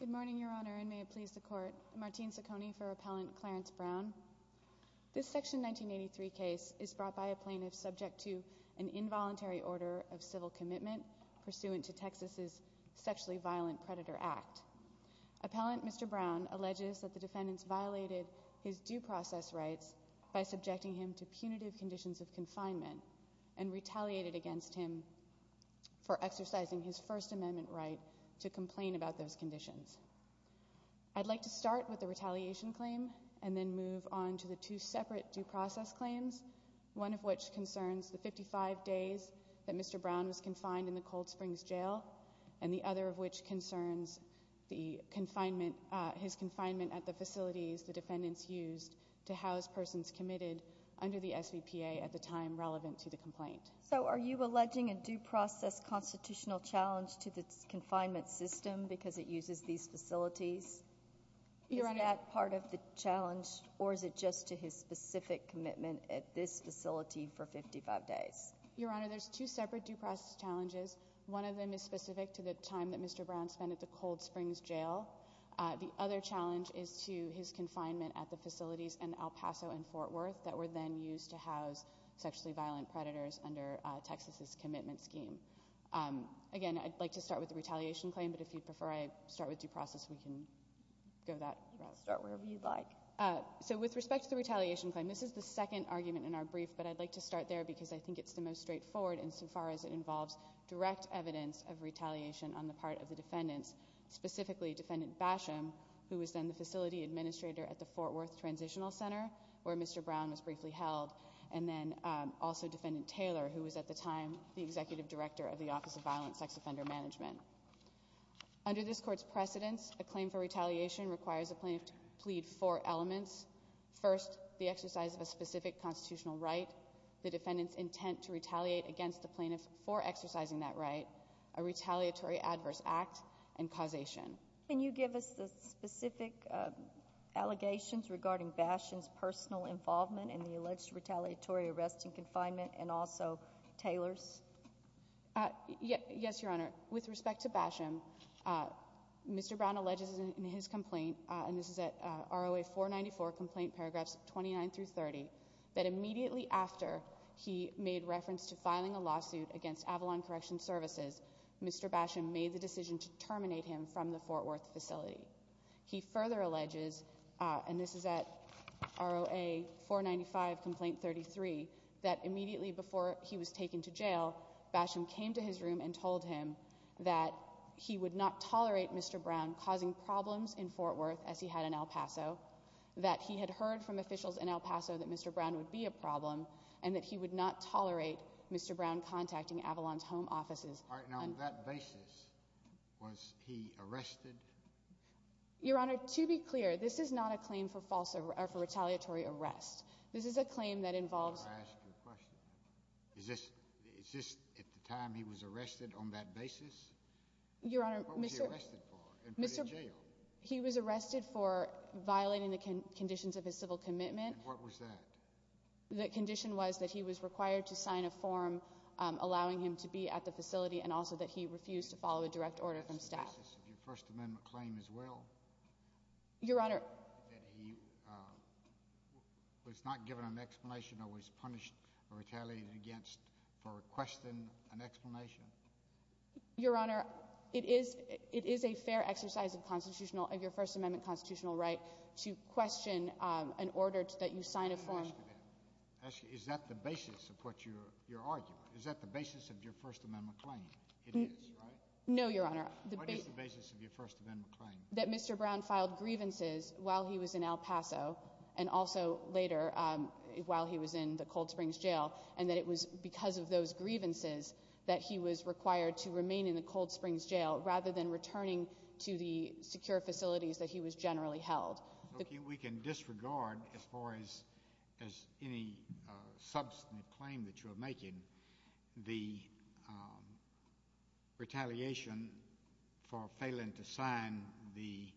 Good morning, Your Honor, and may it please the Court, Martine Ciccone for Appellant Clarence Brown. This Section 1983 case is brought by a plaintiff subject to an involuntary order of civil commitment pursuant to Texas's Sexually Violent Predator Act. Appellant Mr. Brown alleges that the defendants violated his due process rights by subjecting him to punitive conditions of confinement and retaliated against him for exercising his First Amendment right to complain about those conditions. I'd like to start with the retaliation claim and then move on to the two separate due process claims, one of which concerns the 55 days that Mr. Brown was confined in the Cold Springs Jail and the other of which concerns his confinement at the facilities the defendants used to house persons committed under the SVPA at the time relevant to the complaint. So are you alleging a due process constitutional challenge to the confinement system because it uses these facilities? Is that part of the challenge or is it just to his specific commitment at this facility for 55 days? Your Honor, there's two separate due process challenges. One of them is specific to the time that Mr. Brown spent at the Cold Springs Jail. The other challenge is to his confinement at the facilities in El Paso and Fort Worth that were then used to house sexually violent predators under Texas's commitment scheme. Again, I'd like to start with the retaliation claim, but if you'd prefer I start with due process, we can go that route. You can start wherever you'd like. So with respect to the retaliation claim, this is the second argument in our brief, but I'd like to start there because I think it's the most straightforward insofar as it involves direct evidence of retaliation on the part of the defendants, specifically Defendant Basham, who was then the facility administrator at the Fort Worth Transitional Center where Mr. Brown was briefly held, and then also Defendant Taylor, who was at the time the executive director of the Office of Violent Sex Offender Management. Under this Court's precedence, a claim for retaliation requires a plaintiff to plead four elements. First, the exercise of a specific constitutional right, the defendant's intent to retaliate against the plaintiff for exercising that right, a retaliatory adverse act, and causation. Can you give us the specific allegations regarding Basham's personal involvement in the alleged retaliatory arrest in confinement and also Taylor's? Yes, Your Honor. With respect to Basham, Mr. Brown alleges in his complaint, and this is at ROA 494, complaint paragraphs 29 through 30, that immediately after he made reference to filing a lawsuit against Avalon Correction Services, Mr. Basham made the decision to terminate him from the Fort Worth facility. He further alleges, and this is at ROA 495, complaint 33, that immediately before he was taken to jail, Basham came to his room and told him that he would not tolerate Mr. Brown causing problems in Fort Worth, as he had in El Paso, that he had heard from officials in El Paso that Mr. Brown would be a problem, and that he would not tolerate Mr. Brown contacting Avalon's home offices. All right. Now, on that basis, was he arrested? Your Honor, to be clear, this is not a claim for retaliatory arrest. This is a claim that involves… May I ask you a question? Is this at the time he was arrested on that basis? Your Honor, Mr.… What was he arrested for and put in jail? He was arrested for violating the conditions of his civil commitment. And what was that? The condition was that he was required to sign a form allowing him to be at the facility and also that he refused to follow a direct order from staff. That's the basis of your First Amendment claim as well? Your Honor… That he was not given an explanation or was punished or retaliated against for requesting an explanation? Your Honor, it is a fair exercise of constitutional—of your First Amendment constitutional right to question an order that you sign a form… May I ask you that? Is that the basis of what you're arguing? Is that the basis of your First Amendment claim? It is, right? No, Your Honor. What is the basis of your First Amendment claim? That Mr. Brown filed grievances while he was in El Paso and also later while he was in the Cold Springs Jail and that it was because of those grievances that he was required to remain in the Cold Springs Jail rather than returning to the secure facilities that he was generally held. We can disregard, as far as any substantive claim that you are making, the retaliation for failing to sign the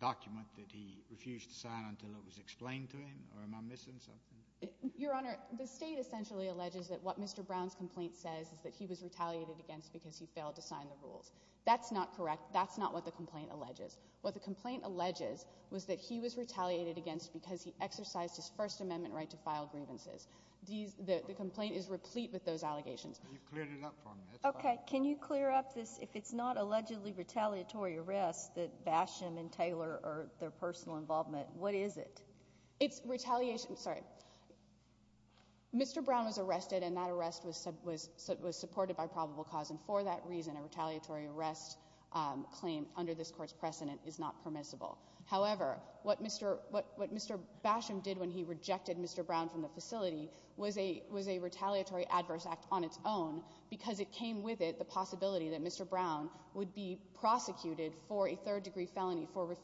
document that he refused to sign until it was explained to him? Or am I missing something? Your Honor, the State essentially alleges that what Mr. Brown's complaint says is that he was retaliated against because he failed to sign the rules. That's not correct. That's not what the complaint alleges. What the complaint alleges was that he was retaliated against because he exercised his First Amendment right to file grievances. The complaint is replete with those allegations. Can you clear it up for me? Okay. Can you clear up this? If it's not allegedly retaliatory arrest that Basham and Taylor are their personal involvement, what is it? It's retaliation—sorry. Mr. Brown was arrested, and that arrest was supported by probable cause, and for that reason, a retaliatory arrest claim under this Court's precedent is not permissible. However, what Mr. Basham did when he rejected Mr. Brown from the facility was a retaliatory adverse act on its own because it came with it the possibility that Mr. Brown would be prosecuted for a third-degree felony for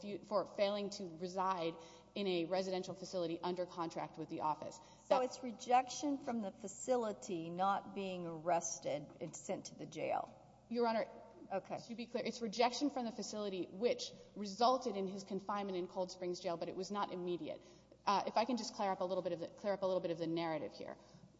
failing to reside in a residential facility under contract with the office. So it's rejection from the facility, not being arrested and sent to the jail? Your Honor, to be clear, it's rejection from the facility, which resulted in his confinement in Cold Springs Jail, but it was not immediate. If I can just clear up a little bit of the narrative here.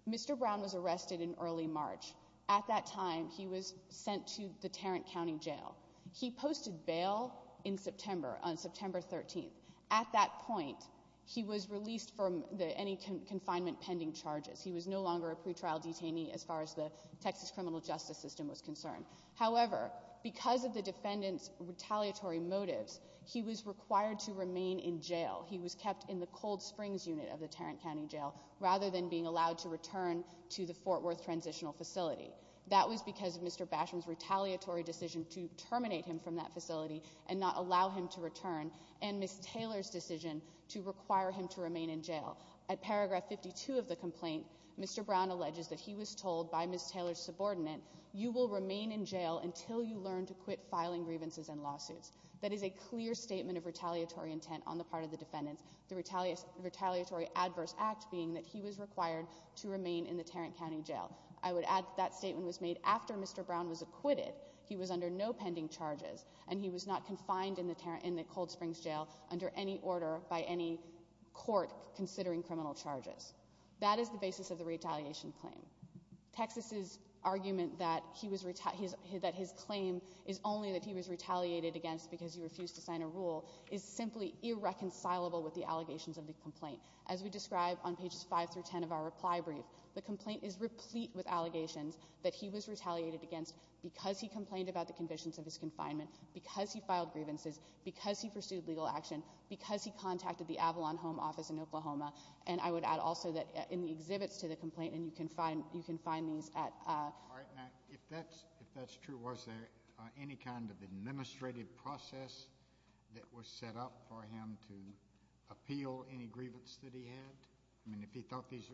Mr. Brown was arrested in early March. At that time, he was sent to the Tarrant County Jail. He posted bail in September, on September 13th. At that point, he was released from any confinement pending charges. He was no longer a pretrial detainee as far as the Texas criminal justice system was concerned. However, because of the defendant's retaliatory motives, he was required to remain in jail. He was kept in the Cold Springs unit of the Tarrant County Jail rather than being allowed to return to the Fort Worth Transitional Facility. That was because of Mr. Basham's retaliatory decision to terminate him from that facility and not allow him to return, and Ms. Taylor's decision to require him to remain in jail. At paragraph 52 of the complaint, Mr. Brown alleges that he was told by Ms. Taylor's subordinate, you will remain in jail until you learn to quit filing grievances and lawsuits. That is a clear statement of retaliatory intent on the part of the defendants, the retaliatory adverse act being that he was required to remain in the Tarrant County Jail. I would add that that statement was made after Mr. Brown was acquitted. He was under no pending charges, and he was not confined in the Cold Springs Jail under any order by any court considering criminal charges. That is the basis of the retaliation claim. Texas's argument that his claim is only that he was retaliated against because he refused to sign a rule is simply irreconcilable with the allegations of the complaint. As we describe on pages 5 through 10 of our reply brief, the complaint is replete with allegations that he was retaliated against because he complained about the conditions of his confinement, because he filed grievances, because he pursued legal action, because he contacted the Avalon Home Office in Oklahoma, and I would add also that in the exhibits to the complaint, and you can find these at All right, now, if that's true, was there any kind of administrative process that was set up for him to appeal any grievance that he had? I mean, if he thought these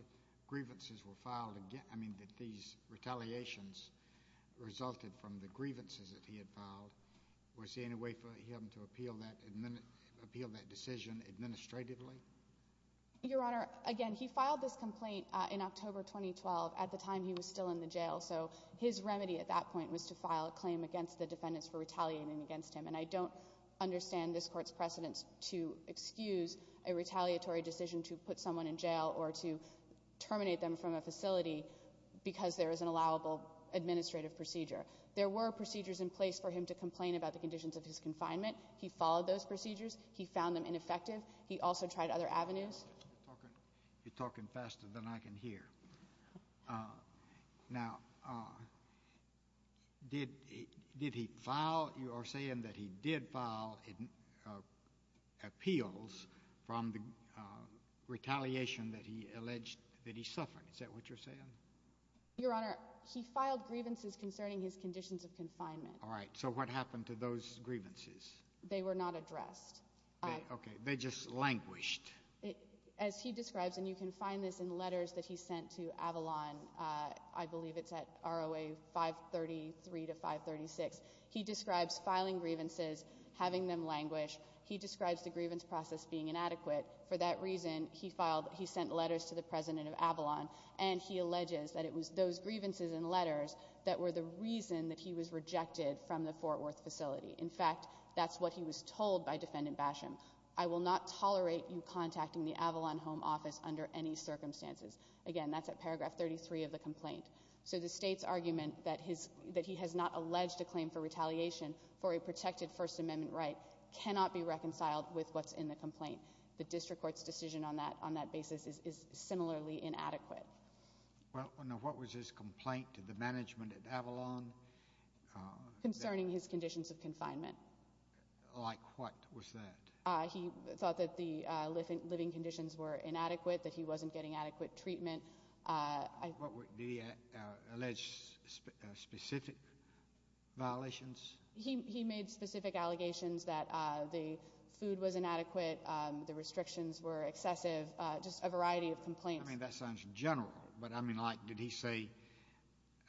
retaliations resulted from the grievances that he had filed, was there any way for him to appeal that decision administratively? Your Honor, again, he filed this complaint in October 2012 at the time he was still in the jail, so his remedy at that point was to file a claim against the defendants for retaliating against him, and I don't understand this Court's precedence to excuse a retaliatory decision to put someone in jail or to terminate them from a facility because there is an allowable administrative procedure. There were procedures in place for him to complain about the conditions of his confinement. He followed those procedures. He found them ineffective. He also tried other avenues. You're talking faster than I can hear. Now, did he file? You are saying that he did file appeals from the retaliation that he alleged that he suffered. Is that what you're saying? Your Honor, he filed grievances concerning his conditions of confinement. All right, so what happened to those grievances? They were not addressed. Okay, they just languished. As he describes, and you can find this in letters that he sent to Avalon, I believe it's at ROA 533 to 536, he describes filing grievances, having them languish. He describes the grievance process being inadequate. For that reason, he sent letters to the president of Avalon, and he alleges that it was those grievances and letters that were the reason that he was rejected from the Fort Worth facility. In fact, that's what he was told by Defendant Basham. I will not tolerate you contacting the Avalon Home Office under any circumstances. Again, that's at paragraph 33 of the complaint. So the state's argument that he has not alleged a claim for retaliation for a protected First Amendment right cannot be reconciled with what's in the complaint. The district court's decision on that basis is similarly inadequate. Now, what was his complaint to the management at Avalon? Concerning his conditions of confinement. Like what was that? He thought that the living conditions were inadequate, that he wasn't getting adequate treatment. Did he allege specific violations? He made specific allegations that the food was inadequate, the restrictions were excessive, just a variety of complaints. I mean, that sounds general, but, I mean, like did he say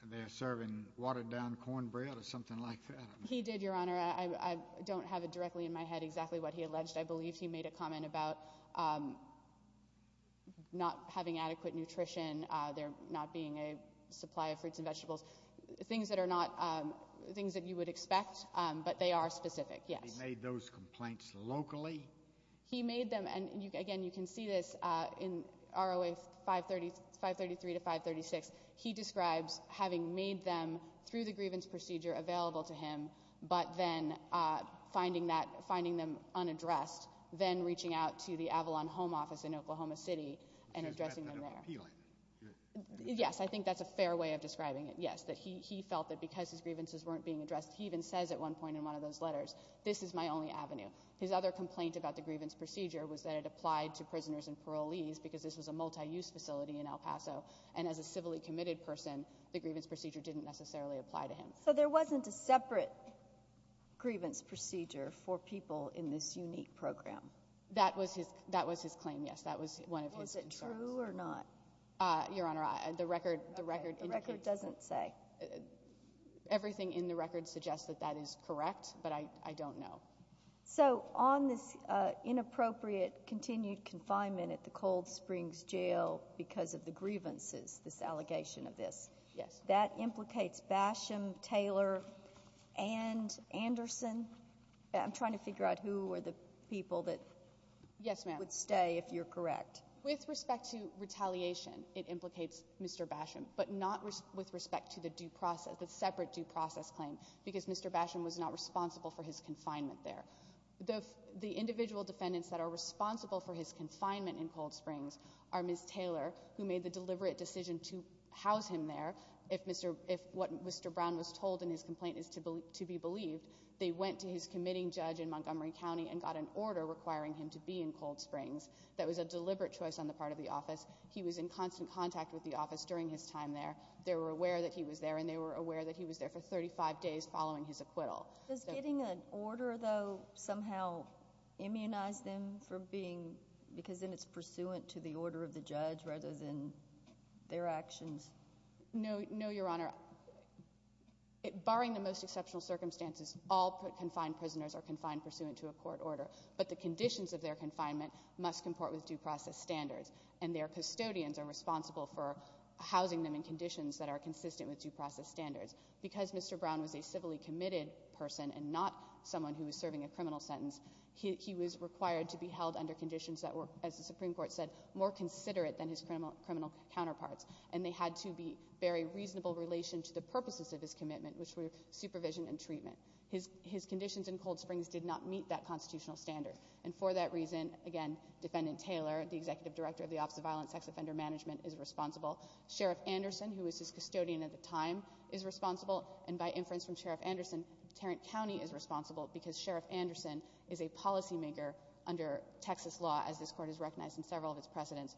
they're serving watered-down cornbread or something like that? He did, Your Honor. I don't have it directly in my head exactly what he alleged. I believe he made a comment about not having adequate nutrition, there not being a supply of fruits and vegetables, things that you would expect, but they are specific, yes. He made those complaints locally? He made them, and again, you can see this in ROA 533 to 536. He describes having made them, through the grievance procedure, available to him, but then finding them unaddressed, then reaching out to the Avalon home office in Oklahoma City and addressing them there. Yes, I think that's a fair way of describing it, yes. He felt that because his grievances weren't being addressed, he even says at one point in one of those letters, this is my only avenue. His other complaint about the grievance procedure was that it applied to prisoners and parolees because this was a multi-use facility in El Paso, and as a civilly committed person, the grievance procedure didn't necessarily apply to him. So there wasn't a separate grievance procedure for people in this unique program? That was his claim, yes. That was one of his concerns. Was it true or not? Your Honor, the record indicates. The record doesn't say. Everything in the record suggests that that is correct, but I don't know. So on this inappropriate continued confinement at the Cold Springs Jail because of the grievances, this allegation of this, that implicates Basham, Taylor, and Anderson? I'm trying to figure out who are the people that would stay if you're correct. With respect to retaliation, it implicates Mr. Basham, but not with respect to the separate due process claim because Mr. Basham was not responsible for his confinement there. The individual defendants that are responsible for his confinement in Cold Springs are Ms. Taylor, who made the deliberate decision to house him there if what Mr. Brown was told in his complaint is to be believed. They went to his committing judge in Montgomery County and got an order requiring him to be in Cold Springs. That was a deliberate choice on the part of the office. He was in constant contact with the office during his time there. They were aware that he was there, and they were aware that he was there for 35 days following his acquittal. Does getting an order, though, somehow immunize them for being—because then it's pursuant to the order of the judge rather than their actions? No, Your Honor. Barring the most exceptional circumstances, all confined prisoners are confined pursuant to a court order, but the conditions of their confinement must comport with due process standards, and their custodians are responsible for housing them in conditions that are consistent with due process standards. Because Mr. Brown was a civilly committed person and not someone who was serving a criminal sentence, he was required to be held under conditions that were, as the Supreme Court said, more considerate than his criminal counterparts, and they had to be very reasonable in relation to the purposes of his commitment, which were supervision and treatment. His conditions in Cold Springs did not meet that constitutional standard, and for that reason, again, Defendant Taylor, the executive director of the Office of Violent Sex Offender Management, is responsible. Sheriff Anderson, who was his custodian at the time, is responsible, and by inference from Sheriff Anderson, Tarrant County is responsible because Sheriff Anderson is a policymaker under Texas law, as this Court has recognized in several of its precedents,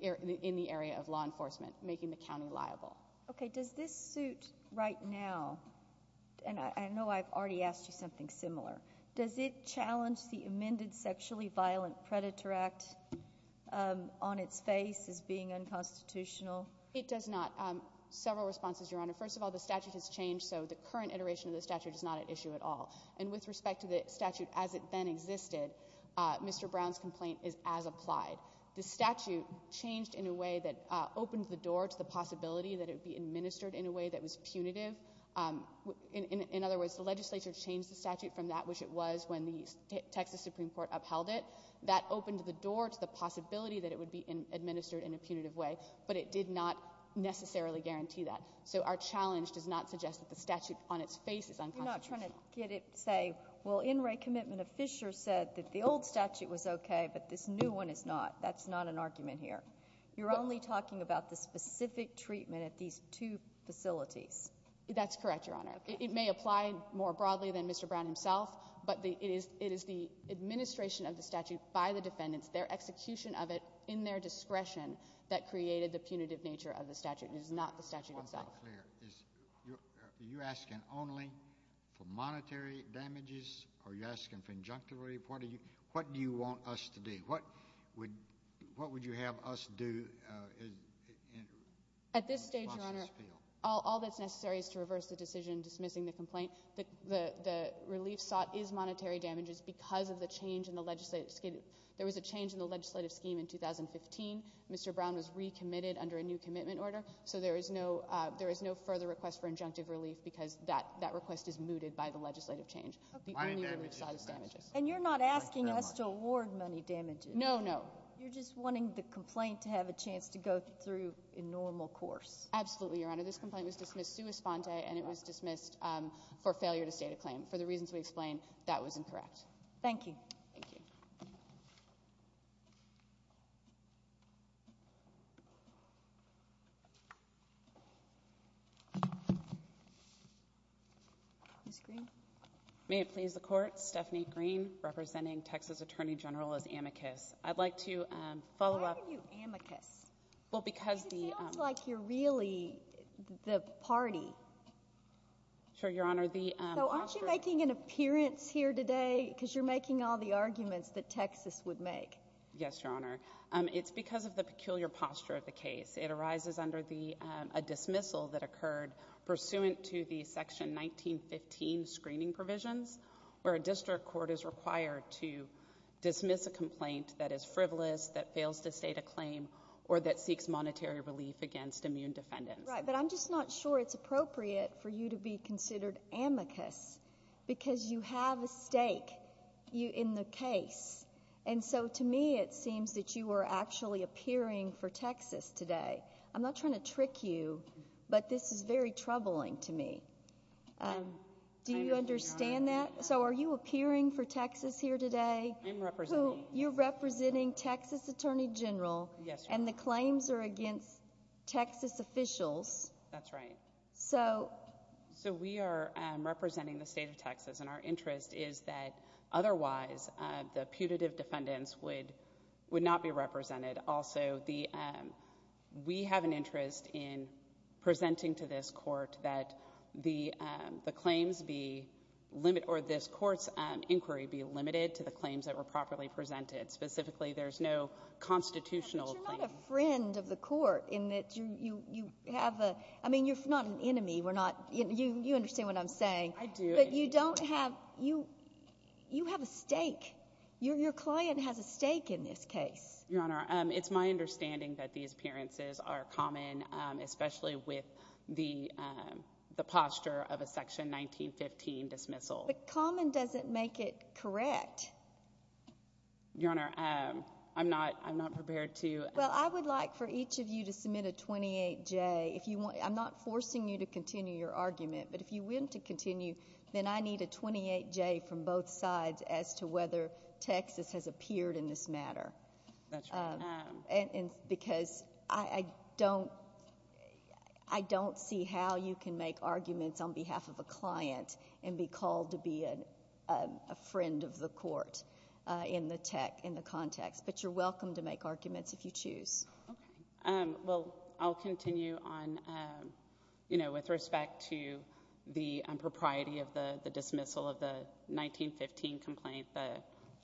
in the area of law enforcement, making the county liable. Okay, does this suit right now, and I know I've already asked you something similar, does it challenge the amended Sexually Violent Predator Act on its face as being unconstitutional? It does not. Several responses, Your Honor. First of all, the statute has changed, so the current iteration of the statute is not at issue at all, and with respect to the statute as it then existed, Mr. Brown's complaint is as applied. The statute changed in a way that opened the door to the possibility that it would be administered in a way that was punitive. In other words, the legislature changed the statute from that which it was when the Texas Supreme Court upheld it. That opened the door to the possibility that it would be administered in a punitive way, but it did not necessarily guarantee that. So our challenge does not suggest that the statute on its face is unconstitutional. I'm not trying to get it to say, well, in re commitment of Fisher said that the old statute was okay, but this new one is not. That's not an argument here. You're only talking about the specific treatment at these two facilities. That's correct, Your Honor. It may apply more broadly than Mr. Brown himself, but it is the administration of the statute by the defendants, their execution of it in their discretion that created the punitive nature of the statute. It is not the statute itself. Are you asking only for monetary damages? Are you asking for injunctive relief? What do you want us to do? What would you have us do? At this stage, Your Honor, all that's necessary is to reverse the decision dismissing the complaint. The relief sought is monetary damages because of the change in the legislative scheme. There was a change in the legislative scheme in 2015. Mr. Brown was recommitted under a new commitment order. So there is no further request for injunctive relief because that request is mooted by the legislative change. The only relief sought is damages. And you're not asking us to award money damages. No, no. You're just wanting the complaint to have a chance to go through a normal course. Absolutely, Your Honor. This complaint was dismissed sua sponte, and it was dismissed for failure to state a claim. For the reasons we explained, that was incorrect. Thank you. Thank you. Ms. Green. May it please the Court, Stephanie Green representing Texas Attorney General as amicus. I'd like to follow up. Why are you amicus? Well, because the – Because it sounds like you're really the party. Sure, Your Honor. So aren't you making an appearance here today because you're making all the arguments that Texas would make? Yes, Your Honor. It's because of the peculiar posture of the case. It arises under a dismissal that occurred pursuant to the Section 1915 screening provisions where a district court is required to dismiss a complaint that is frivolous, that fails to state a claim, or that seeks monetary relief against immune defendants. Right. But I'm just not sure it's appropriate for you to be considered amicus because you have a stake in the case. And so to me it seems that you were actually appearing for Texas today. I'm not trying to trick you, but this is very troubling to me. Do you understand that? So are you appearing for Texas here today? I'm representing – You're representing Texas Attorney General. Yes, Your Honor. And the claims are against Texas officials. That's right. So – So we are representing the state of Texas, and our interest is that otherwise the putative defendants would not be represented. Also, we have an interest in presenting to this court that the claims be – or this court's inquiry be limited to the claims that were properly presented. Specifically, there's no constitutional claim. But you're not a friend of the court in that you have a – I mean, you're not an enemy. You understand what I'm saying. I do. But you don't have – you have a stake. Your client has a stake in this case. Your Honor, it's my understanding that these appearances are common, especially with the posture of a Section 1915 dismissal. But common doesn't make it correct. Your Honor, I'm not prepared to – Well, I would like for each of you to submit a 28J. I'm not forcing you to continue your argument, but if you win to continue, then I need a 28J from both sides as to whether Texas has appeared in this matter. That's right. Because I don't see how you can make arguments on behalf of a client and be called to be a friend of the court in the context. But you're welcome to make arguments if you choose. Okay. Well, I'll continue on with respect to the propriety of the dismissal of the 1915 complaint.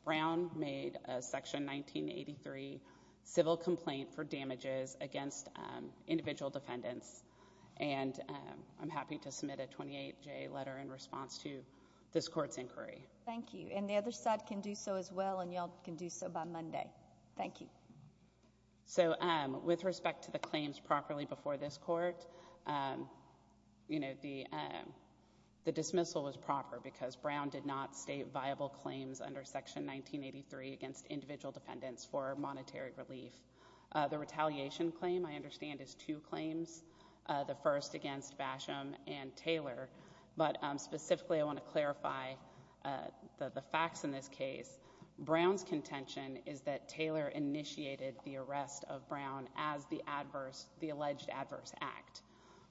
Brown made a Section 1983 civil complaint for damages against individual defendants, and I'm happy to submit a 28J letter in response to this court's inquiry. Thank you. And the other side can do so as well, and you all can do so by Monday. Thank you. So with respect to the claims properly before this court, the dismissal was proper because Brown did not state viable claims under Section 1983 against individual defendants for monetary relief. The retaliation claim, I understand, is two claims, the first against Basham and Taylor. But specifically, I want to clarify the facts in this case. Brown's contention is that Taylor initiated the arrest of Brown as the alleged adverse act.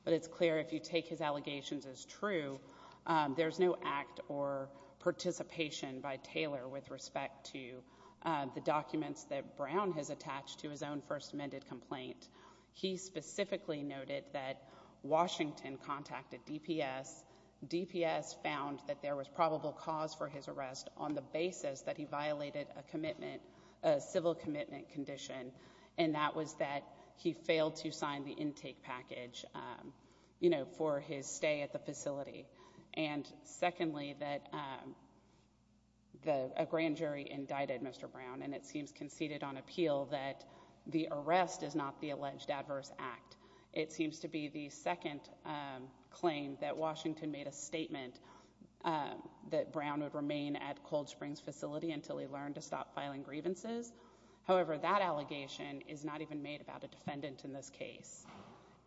But it's clear if you take his allegations as true, there's no act or participation by Taylor with respect to the documents that Brown has attached to his own First Amendment complaint. He specifically noted that Washington contacted DPS. DPS found that there was probable cause for his arrest on the basis that he violated a commitment, a civil commitment condition, and that was that he failed to sign the intake package, you know, for his stay at the facility. And secondly, that a grand jury indicted Mr. Brown, and it seems conceded on appeal that the arrest is not the alleged adverse act. It seems to be the second claim that Washington made a statement that Brown would remain at Cold Springs facility until he learned to stop filing grievances. However, that allegation is not even made about a defendant in this case.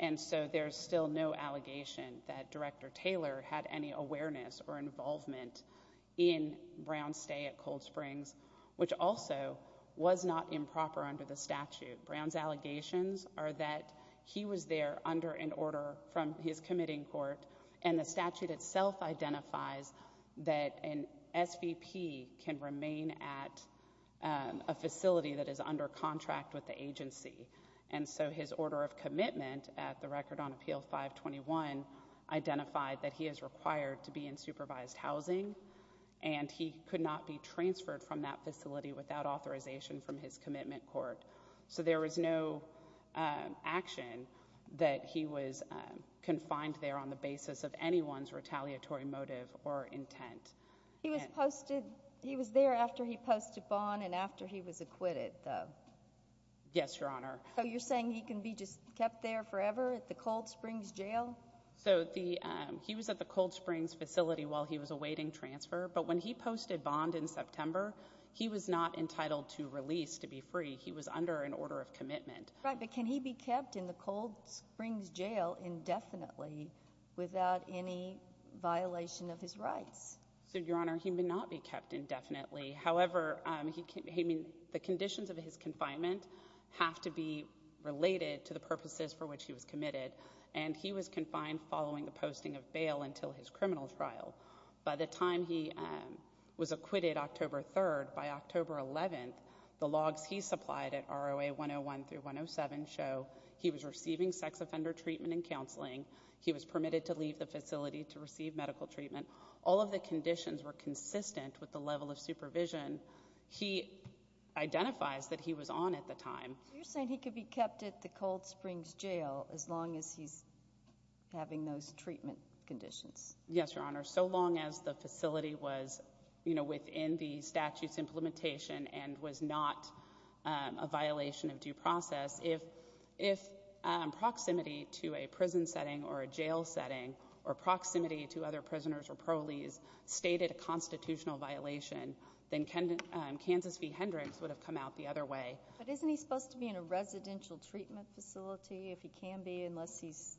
And so there's still no allegation that Director Taylor had any awareness or involvement in Brown's stay at Cold Springs, which also was not improper under the statute. Brown's allegations are that he was there under an order from his committing court, and the statute itself identifies that an SVP can remain at a facility that is under contract with the agency. And so his order of commitment at the record on Appeal 521 identified that he is required to be in supervised housing, and he could not be transferred from that facility without authorization from his commitment court. So there was no action that he was confined there on the basis of anyone's retaliatory motive or intent. He was there after he posted bond and after he was acquitted, though. Yes, Your Honor. So you're saying he can be just kept there forever at the Cold Springs jail? So he was at the Cold Springs facility while he was awaiting transfer, but when he posted bond in September, he was not entitled to release to be free. He was under an order of commitment. Right, but can he be kept in the Cold Springs jail indefinitely without any violation of his rights? So, Your Honor, he may not be kept indefinitely. However, the conditions of his confinement have to be related to the purposes for which he was committed, and he was confined following the posting of bail until his criminal trial. By the time he was acquitted October 3rd, by October 11th, the logs he supplied at ROA 101 through 107 show he was receiving sex offender treatment and counseling. He was permitted to leave the facility to receive medical treatment. All of the conditions were consistent with the level of supervision he identifies that he was on at the time. So you're saying he could be kept at the Cold Springs jail as long as he's having those treatment conditions? Yes, Your Honor, so long as the facility was, you know, within the statute's implementation and was not a violation of due process, if proximity to a prison setting or a jail setting or proximity to other prisoners or proleagues stated a constitutional violation, then Kansas v. Hendricks would have come out the other way. But isn't he supposed to be in a residential treatment facility if he can be unless he's…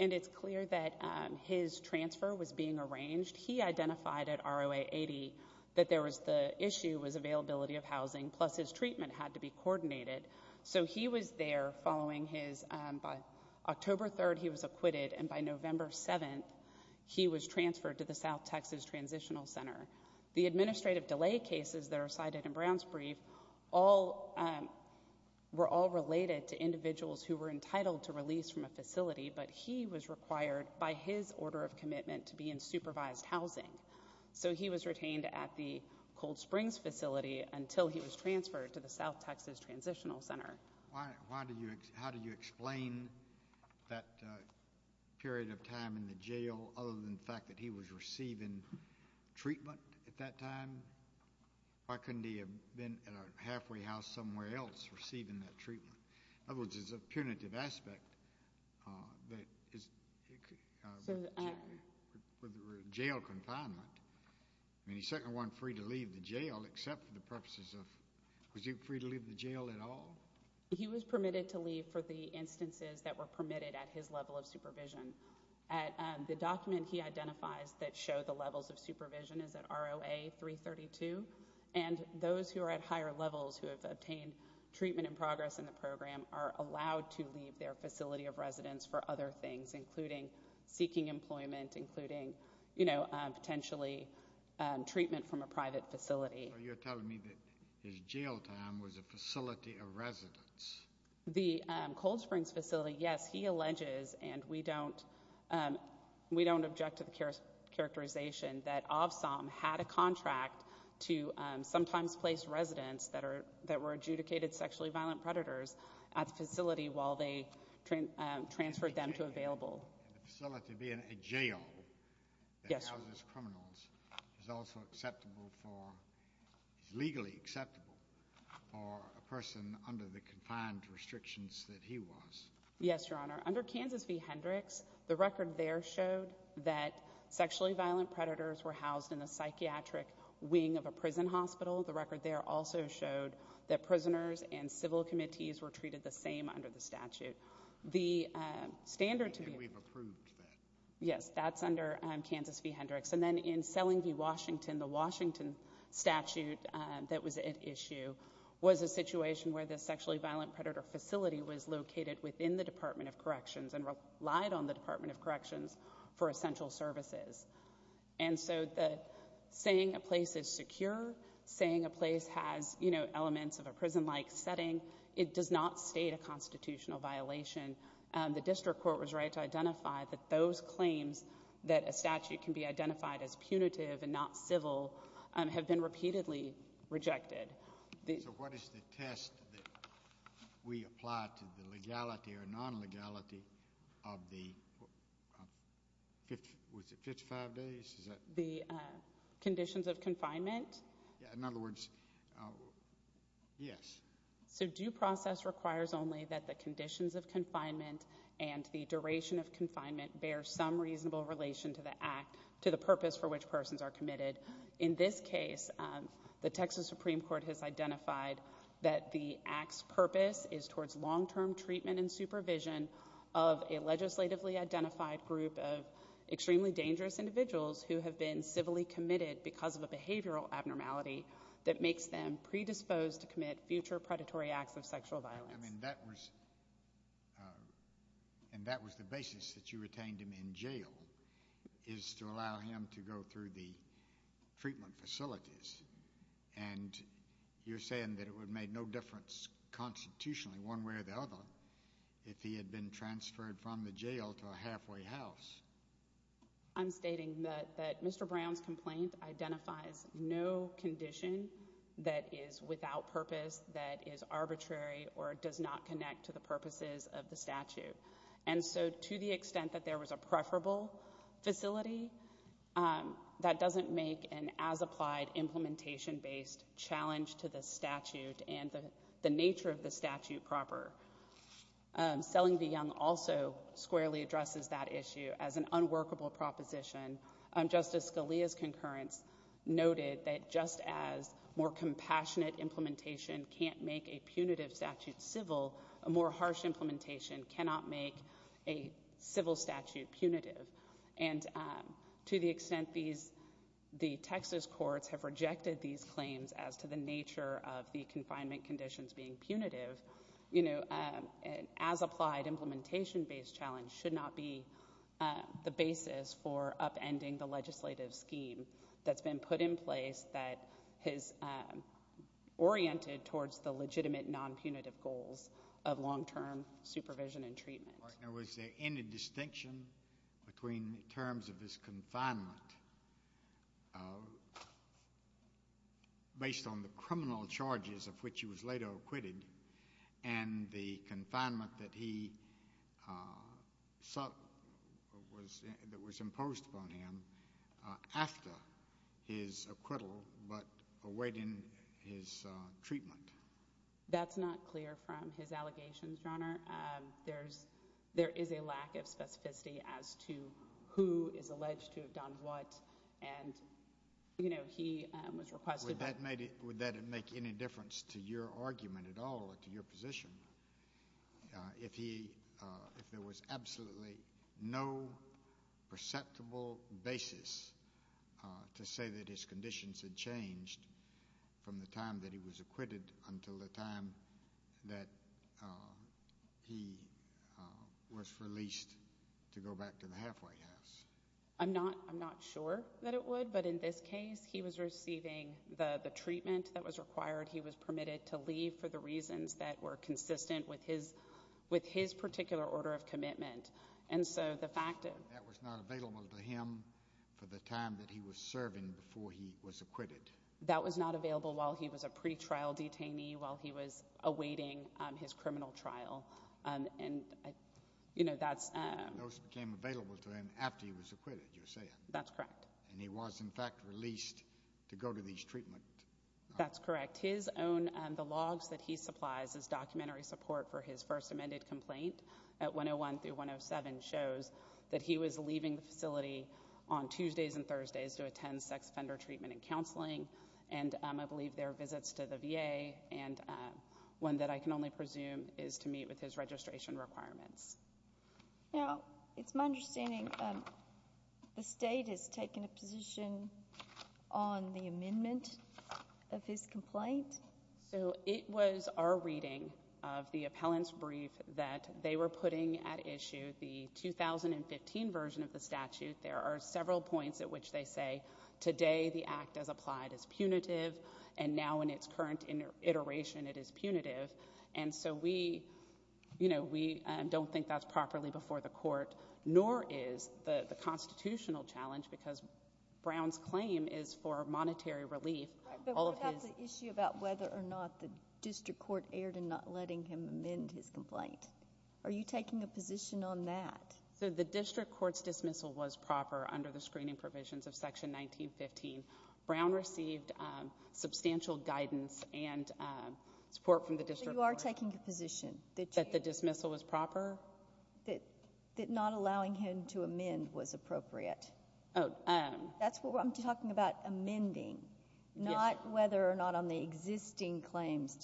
And it's clear that his transfer was being arranged. He identified at ROA 80 that the issue was availability of housing, plus his treatment had to be coordinated. So he was there following his—by October 3rd, he was acquitted, and by November 7th, he was transferred to the South Texas Transitional Center. The administrative delay cases that are cited in Brown's brief were all related to individuals who were entitled to release from a facility, but he was required by his order of commitment to be in supervised housing. So he was retained at the Cold Springs facility until he was transferred to the South Texas Transitional Center. How do you explain that period of time in the jail other than the fact that he was receiving treatment at that time? Why couldn't he have been at a halfway house somewhere else receiving that treatment? In other words, there's a punitive aspect that is jail confinement. I mean, he certainly wasn't free to leave the jail except for the purposes of—was he free to leave the jail at all? He was permitted to leave for the instances that were permitted at his level of supervision. The document he identifies that showed the levels of supervision is at ROA 332, and those who are at higher levels who have obtained treatment in progress in the program are allowed to leave their facility of residence for other things, including seeking employment, including potentially treatment from a private facility. So you're telling me that his jail time was a facility of residence? The Cold Springs facility, yes, he alleges, and we don't object to the characterization, that OVSOM had a contract to sometimes place residents that were adjudicated sexually violent predators at the facility while they transferred them to available. The facility being a jail that houses criminals is also acceptable for— is legally acceptable for a person under the confined restrictions that he was. Yes, Your Honor. Under Kansas v. Hendricks, the record there showed that sexually violent predators were housed in the psychiatric wing of a prison hospital. The record there also showed that prisoners and civil committees were treated the same under the statute. The standard to be— And we've approved that. Yes, that's under Kansas v. Hendricks. And then in Selling v. Washington, the Washington statute that was at issue was a situation where the sexually violent predator facility was located within the Department of Corrections and relied on the Department of Corrections for essential services. And so saying a place is secure, saying a place has, you know, elements of a prison-like setting, it does not state a constitutional violation. The district court was right to identify that those claims that a statute can be identified as punitive and not civil have been repeatedly rejected. So what is the test that we apply to the legality or non-legality of the 55 days? The conditions of confinement? In other words, yes. So due process requires only that the conditions of confinement and the duration of confinement bear some reasonable relation to the purpose for which persons are committed. In this case, the Texas Supreme Court has identified that the act's purpose is towards long-term treatment and supervision of a legislatively identified group of extremely dangerous individuals who have been civilly committed because of a behavioral abnormality that makes them predisposed to commit future predatory acts of sexual violence. I mean, that was the basis that you retained him in jail is to allow him to go through the treatment facilities. And you're saying that it would have made no difference constitutionally one way or the other if he had been transferred from the jail to a halfway house. I'm stating that Mr. Brown's complaint identifies no condition that is without purpose, that is arbitrary or does not connect to the purposes of the statute. And so to the extent that there was a preferable facility, that doesn't make an as-applied implementation-based challenge to the statute and the nature of the statute proper. Selling the young also squarely addresses that issue as an unworkable proposition. Justice Scalia's concurrence noted that just as more compassionate implementation can't make a punitive statute civil, a more harsh implementation cannot make a civil statute punitive. And to the extent the Texas courts have rejected these claims as to the nature of the confinement conditions being punitive, an as-applied implementation-based challenge should not be the basis for upending the legislative scheme that's been put in place that is oriented towards the legitimate non-punitive goals of long-term supervision and treatment. Was there any distinction between terms of his confinement based on the criminal charges of which he was later acquitted and the confinement that was imposed upon him after his acquittal but awaiting his treatment? That's not clear from his allegations, Your Honor. There is a lack of specificity as to who is alleged to have done what. Would that make any difference to your argument at all or to your position if there was absolutely no perceptible basis to say that his conditions had changed from the time that he was acquitted until the time that he was released to go back to the halfway house? I'm not sure that it would, but in this case, he was receiving the treatment that was required. He was permitted to leave for the reasons that were consistent with his particular order of commitment. And so the fact that— That was not available to him for the time that he was serving before he was acquitted. That was not available while he was a pretrial detainee, while he was awaiting his criminal trial. And, you know, that's— Those became available to him after he was acquitted, you're saying. That's correct. And he was, in fact, released to go to these treatment— That's correct. His own—the logs that he supplies as documentary support for his first amended complaint at 101 through 107 shows that he was leaving the facility on Tuesdays and Thursdays to attend sex offender treatment and counseling. And I believe there are visits to the VA. And one that I can only presume is to meet with his registration requirements. Now, it's my understanding the state has taken a position on the amendment of his complaint. So it was our reading of the appellant's brief that they were putting at issue the 2015 version of the statute. There are several points at which they say today the act as applied is punitive, and now in its current iteration it is punitive. And so we, you know, we don't think that's properly before the court, nor is the constitutional challenge, because Brown's claim is for monetary relief. But what about the issue about whether or not the district court erred in not letting him amend his complaint? Are you taking a position on that? So the district court's dismissal was proper under the screening provisions of Section 1915. Brown received substantial guidance and support from the district court. So you are taking a position that you— That the dismissal was proper? That not allowing him to amend was appropriate. Oh. That's what I'm talking about, amending, not whether or not on the existing claims.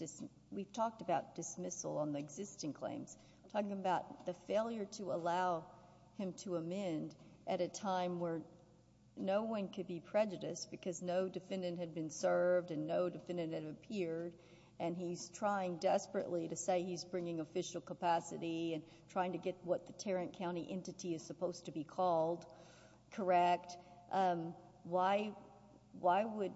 We've talked about dismissal on the existing claims. I'm talking about the failure to allow him to amend at a time where no one could be prejudiced because no defendant had been served and no defendant had appeared, and he's trying desperately to say he's bringing official capacity and trying to get what the Tarrant County entity is supposed to be called correct. Why would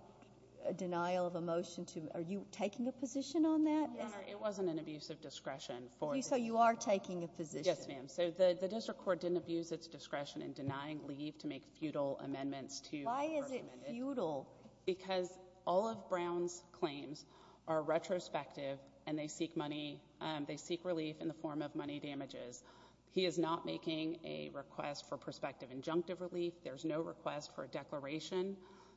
a denial of a motion to—are you taking a position on that? Your Honor, it wasn't an abuse of discretion for— So you are taking a position. Yes, ma'am. So the district court didn't abuse its discretion in denying leave to make futile amendments to— Why is it futile? Because all of Brown's claims are retrospective and they seek money—they seek relief in the form of money damages. He is not making a request for prospective injunctive relief. There's no request for a declaration.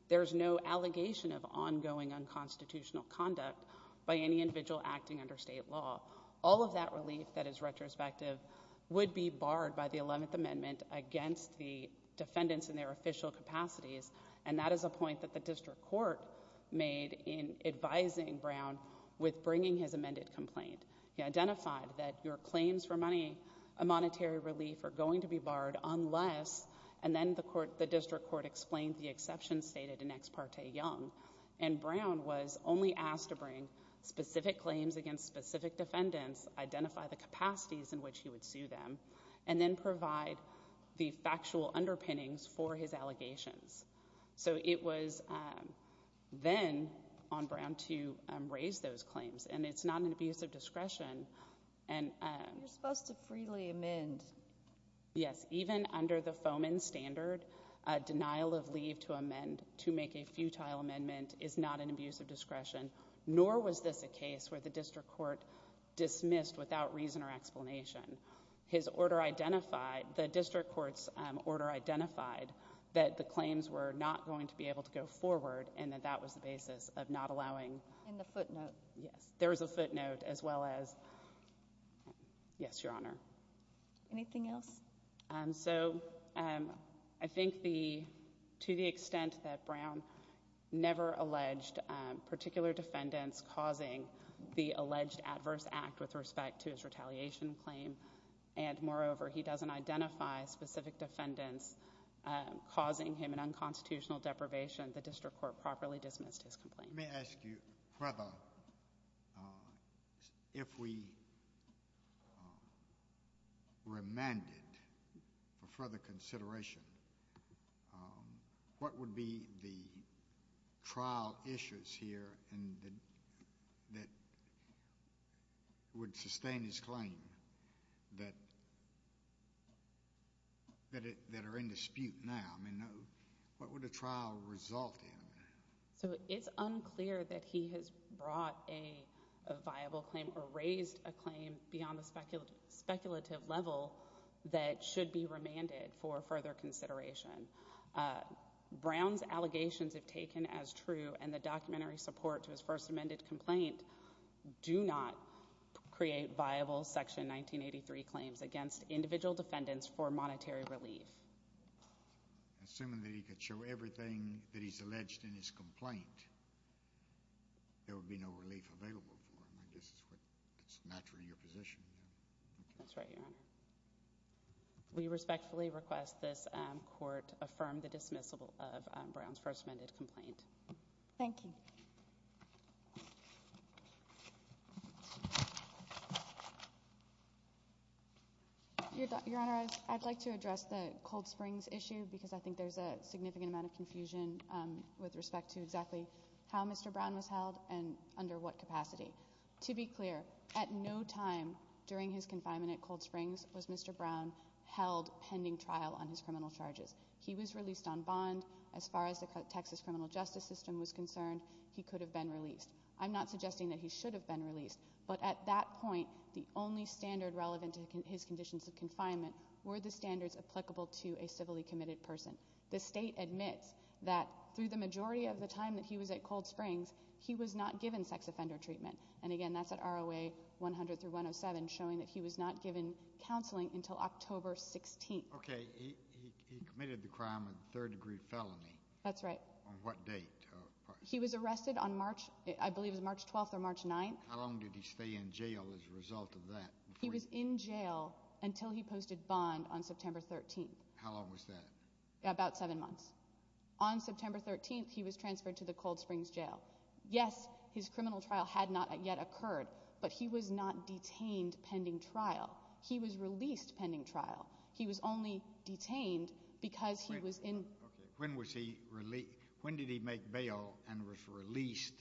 There's no allegation of ongoing unconstitutional conduct by any individual acting under State law. All of that relief that is retrospective would be barred by the Eleventh Amendment against the defendants in their official capacities, and that is a point that the district court made in advising Brown with bringing his amended complaint. He identified that your claims for money, a monetary relief, are going to be barred unless— and then the district court explained the exceptions stated in Ex Parte Young, and Brown was only asked to bring specific claims against specific defendants, identify the capacities in which he would sue them, and then provide the factual underpinnings for his allegations. So it was then on Brown to raise those claims, and it's not an abuse of discretion. You're supposed to freely amend. Yes, even under the FOMEN standard, a denial of leave to amend to make a futile amendment is not an abuse of discretion, nor was this a case where the district court dismissed without reason or explanation. His order identified—the district court's order identified that the claims were not going to be able to go forward and that that was the basis of not allowing— And the footnote. Yes, there was a footnote as well as—yes, Your Honor. Anything else? So I think the—to the extent that Brown never alleged particular defendants causing the alleged adverse act with respect to his retaliation claim and, moreover, he doesn't identify specific defendants causing him an unconstitutional deprivation, the district court properly dismissed his complaint. Let me ask you further, if we remanded for further consideration, what would be the trial issues here that would sustain his claim that are in dispute now? I mean, what would a trial result in? So it's unclear that he has brought a viable claim or raised a claim beyond the speculative level that should be remanded for further consideration. Brown's allegations, if taken as true, and the documentary support to his first amended complaint, do not create viable Section 1983 claims against individual defendants for monetary relief. Assuming that he could show everything that he's alleged in his complaint, there would be no relief available for him. I guess that's what's natural in your position. That's right, Your Honor. We respectfully request this Court affirm the dismissal of Brown's first amended complaint. Thank you. Your Honor, I'd like to address the Cold Springs issue because I think there's a significant amount of confusion with respect to exactly how Mr. Brown was held and under what capacity. To be clear, at no time during his confinement at Cold Springs was Mr. Brown held pending trial on his criminal charges. He was released on bond. As far as the Texas criminal justice system was concerned, he could have been released. I'm not suggesting that he should have been released. But at that point, the only standard relevant to his conditions of confinement were the standards applicable to a civilly committed person. The state admits that through the majority of the time that he was at Cold Springs, he was not given sex offender treatment. And, again, that's at ROA 100 through 107, showing that he was not given counseling until October 16th. Okay. He committed the crime of third degree felony. That's right. On what date? He was arrested on March, I believe it was March 12th or March 9th. How long did he stay in jail as a result of that? He was in jail until he posted bond on September 13th. How long was that? About seven months. On September 13th, he was transferred to the Cold Springs jail. Yes, his criminal trial had not yet occurred, but he was not detained pending trial. He was released pending trial. He was only detained because he was in- When was he released? When did he make bail and was released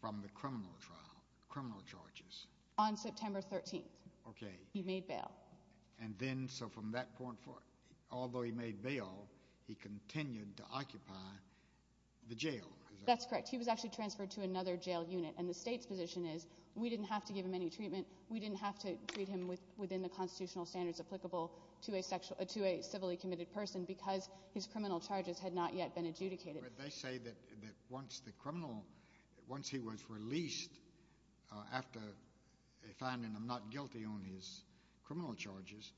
from the criminal trial, criminal charges? On September 13th. Okay. He made bail. And then, so from that point forward, although he made bail, he continued to occupy the jail? That's correct. He was actually transferred to another jail unit, and the state's position is we didn't have to give him any treatment. We didn't have to treat him within the constitutional standards applicable to a civilly committed person because his criminal charges had not yet been adjudicated. But they say that once the criminal, once he was released after finding him not guilty on his criminal charges,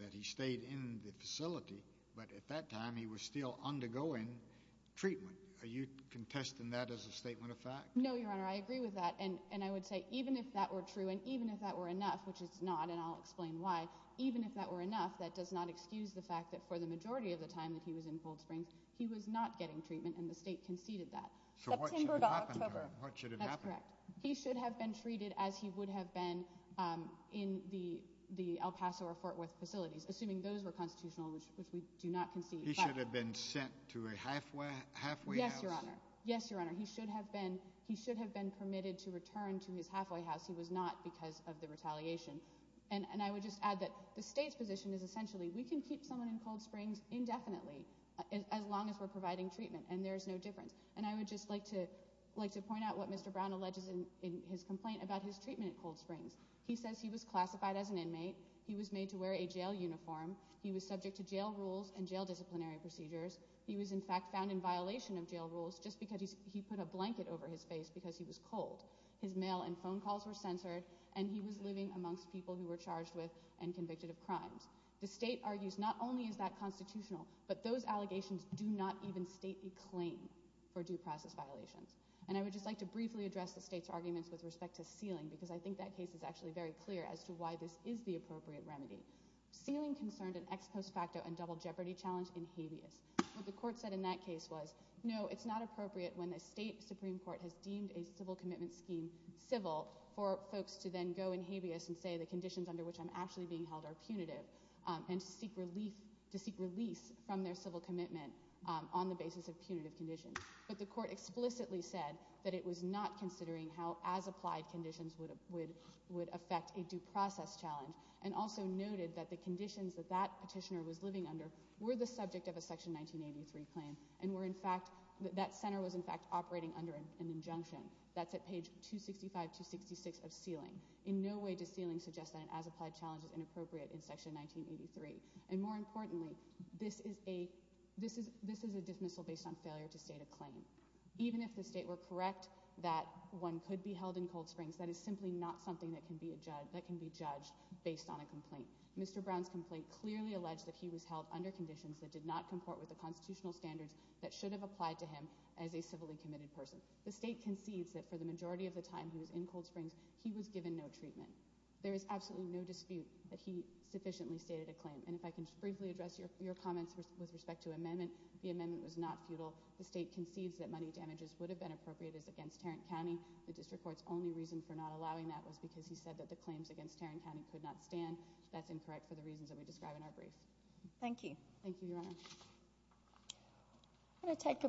that he stayed in the facility, but at that time, he was still undergoing treatment. Are you contesting that as a statement of fact? No, Your Honor. I agree with that. And I would say even if that were true and even if that were enough, which it's not, and I'll explain why, even if that were enough, that does not excuse the fact that for the majority of the time that he was in Gold Springs, he was not getting treatment, and the state conceded that. So what should have happened to him? That's correct. He should have been treated as he would have been in the El Paso or Fort Worth facilities, assuming those were constitutional, which we do not concede. He should have been sent to a halfway house? Yes, Your Honor. Yes, Your Honor. And he should have been permitted to return to his halfway house. He was not because of the retaliation. And I would just add that the state's position is essentially we can keep someone in Gold Springs indefinitely as long as we're providing treatment, and there's no difference. And I would just like to point out what Mr. Brown alleges in his complaint about his treatment at Gold Springs. He says he was classified as an inmate. He was made to wear a jail uniform. He was subject to jail rules and jail disciplinary procedures. He was, in fact, found in violation of jail rules just because he put a blanket over his face because he was cold. His mail and phone calls were censored, and he was living amongst people who were charged with and convicted of crimes. The state argues not only is that constitutional, but those allegations do not even stately claim for due process violations. And I would just like to briefly address the state's arguments with respect to sealing because I think that case is actually very clear as to why this is the appropriate remedy. Sealing concerned an ex post facto and double jeopardy challenge in habeas. What the court said in that case was, no, it's not appropriate when the state supreme court has deemed a civil commitment scheme civil for folks to then go in habeas and say the conditions under which I'm actually being held are punitive and to seek relief, to seek release from their civil commitment on the basis of punitive conditions. But the court explicitly said that it was not considering how as applied conditions would affect a due process challenge and also noted that the conditions that that petitioner was living under were the subject of a section 1983 claim and that center was in fact operating under an injunction. That's at page 265-266 of sealing. In no way does sealing suggest that an as applied challenge is inappropriate in section 1983. And more importantly, this is a dismissal based on failure to state a claim. Even if the state were correct that one could be held in Cold Springs, that is simply not something that can be judged based on a complaint. Mr. Brown's complaint clearly alleged that he was held under conditions that did not comport with the constitutional standards that should have applied to him as a civilly committed person. The state concedes that for the majority of the time he was in Cold Springs, he was given no treatment. There is absolutely no dispute that he sufficiently stated a claim. And if I can just briefly address your comments with respect to amendment, the amendment was not futile. The state concedes that money damages would have been appropriate as against Tarrant County. The district court's only reason for not allowing that was because he said that the claims against Tarrant County could not stand. That's incorrect for the reasons that we describe in our brief. Thank you. Thank you, Your Honor.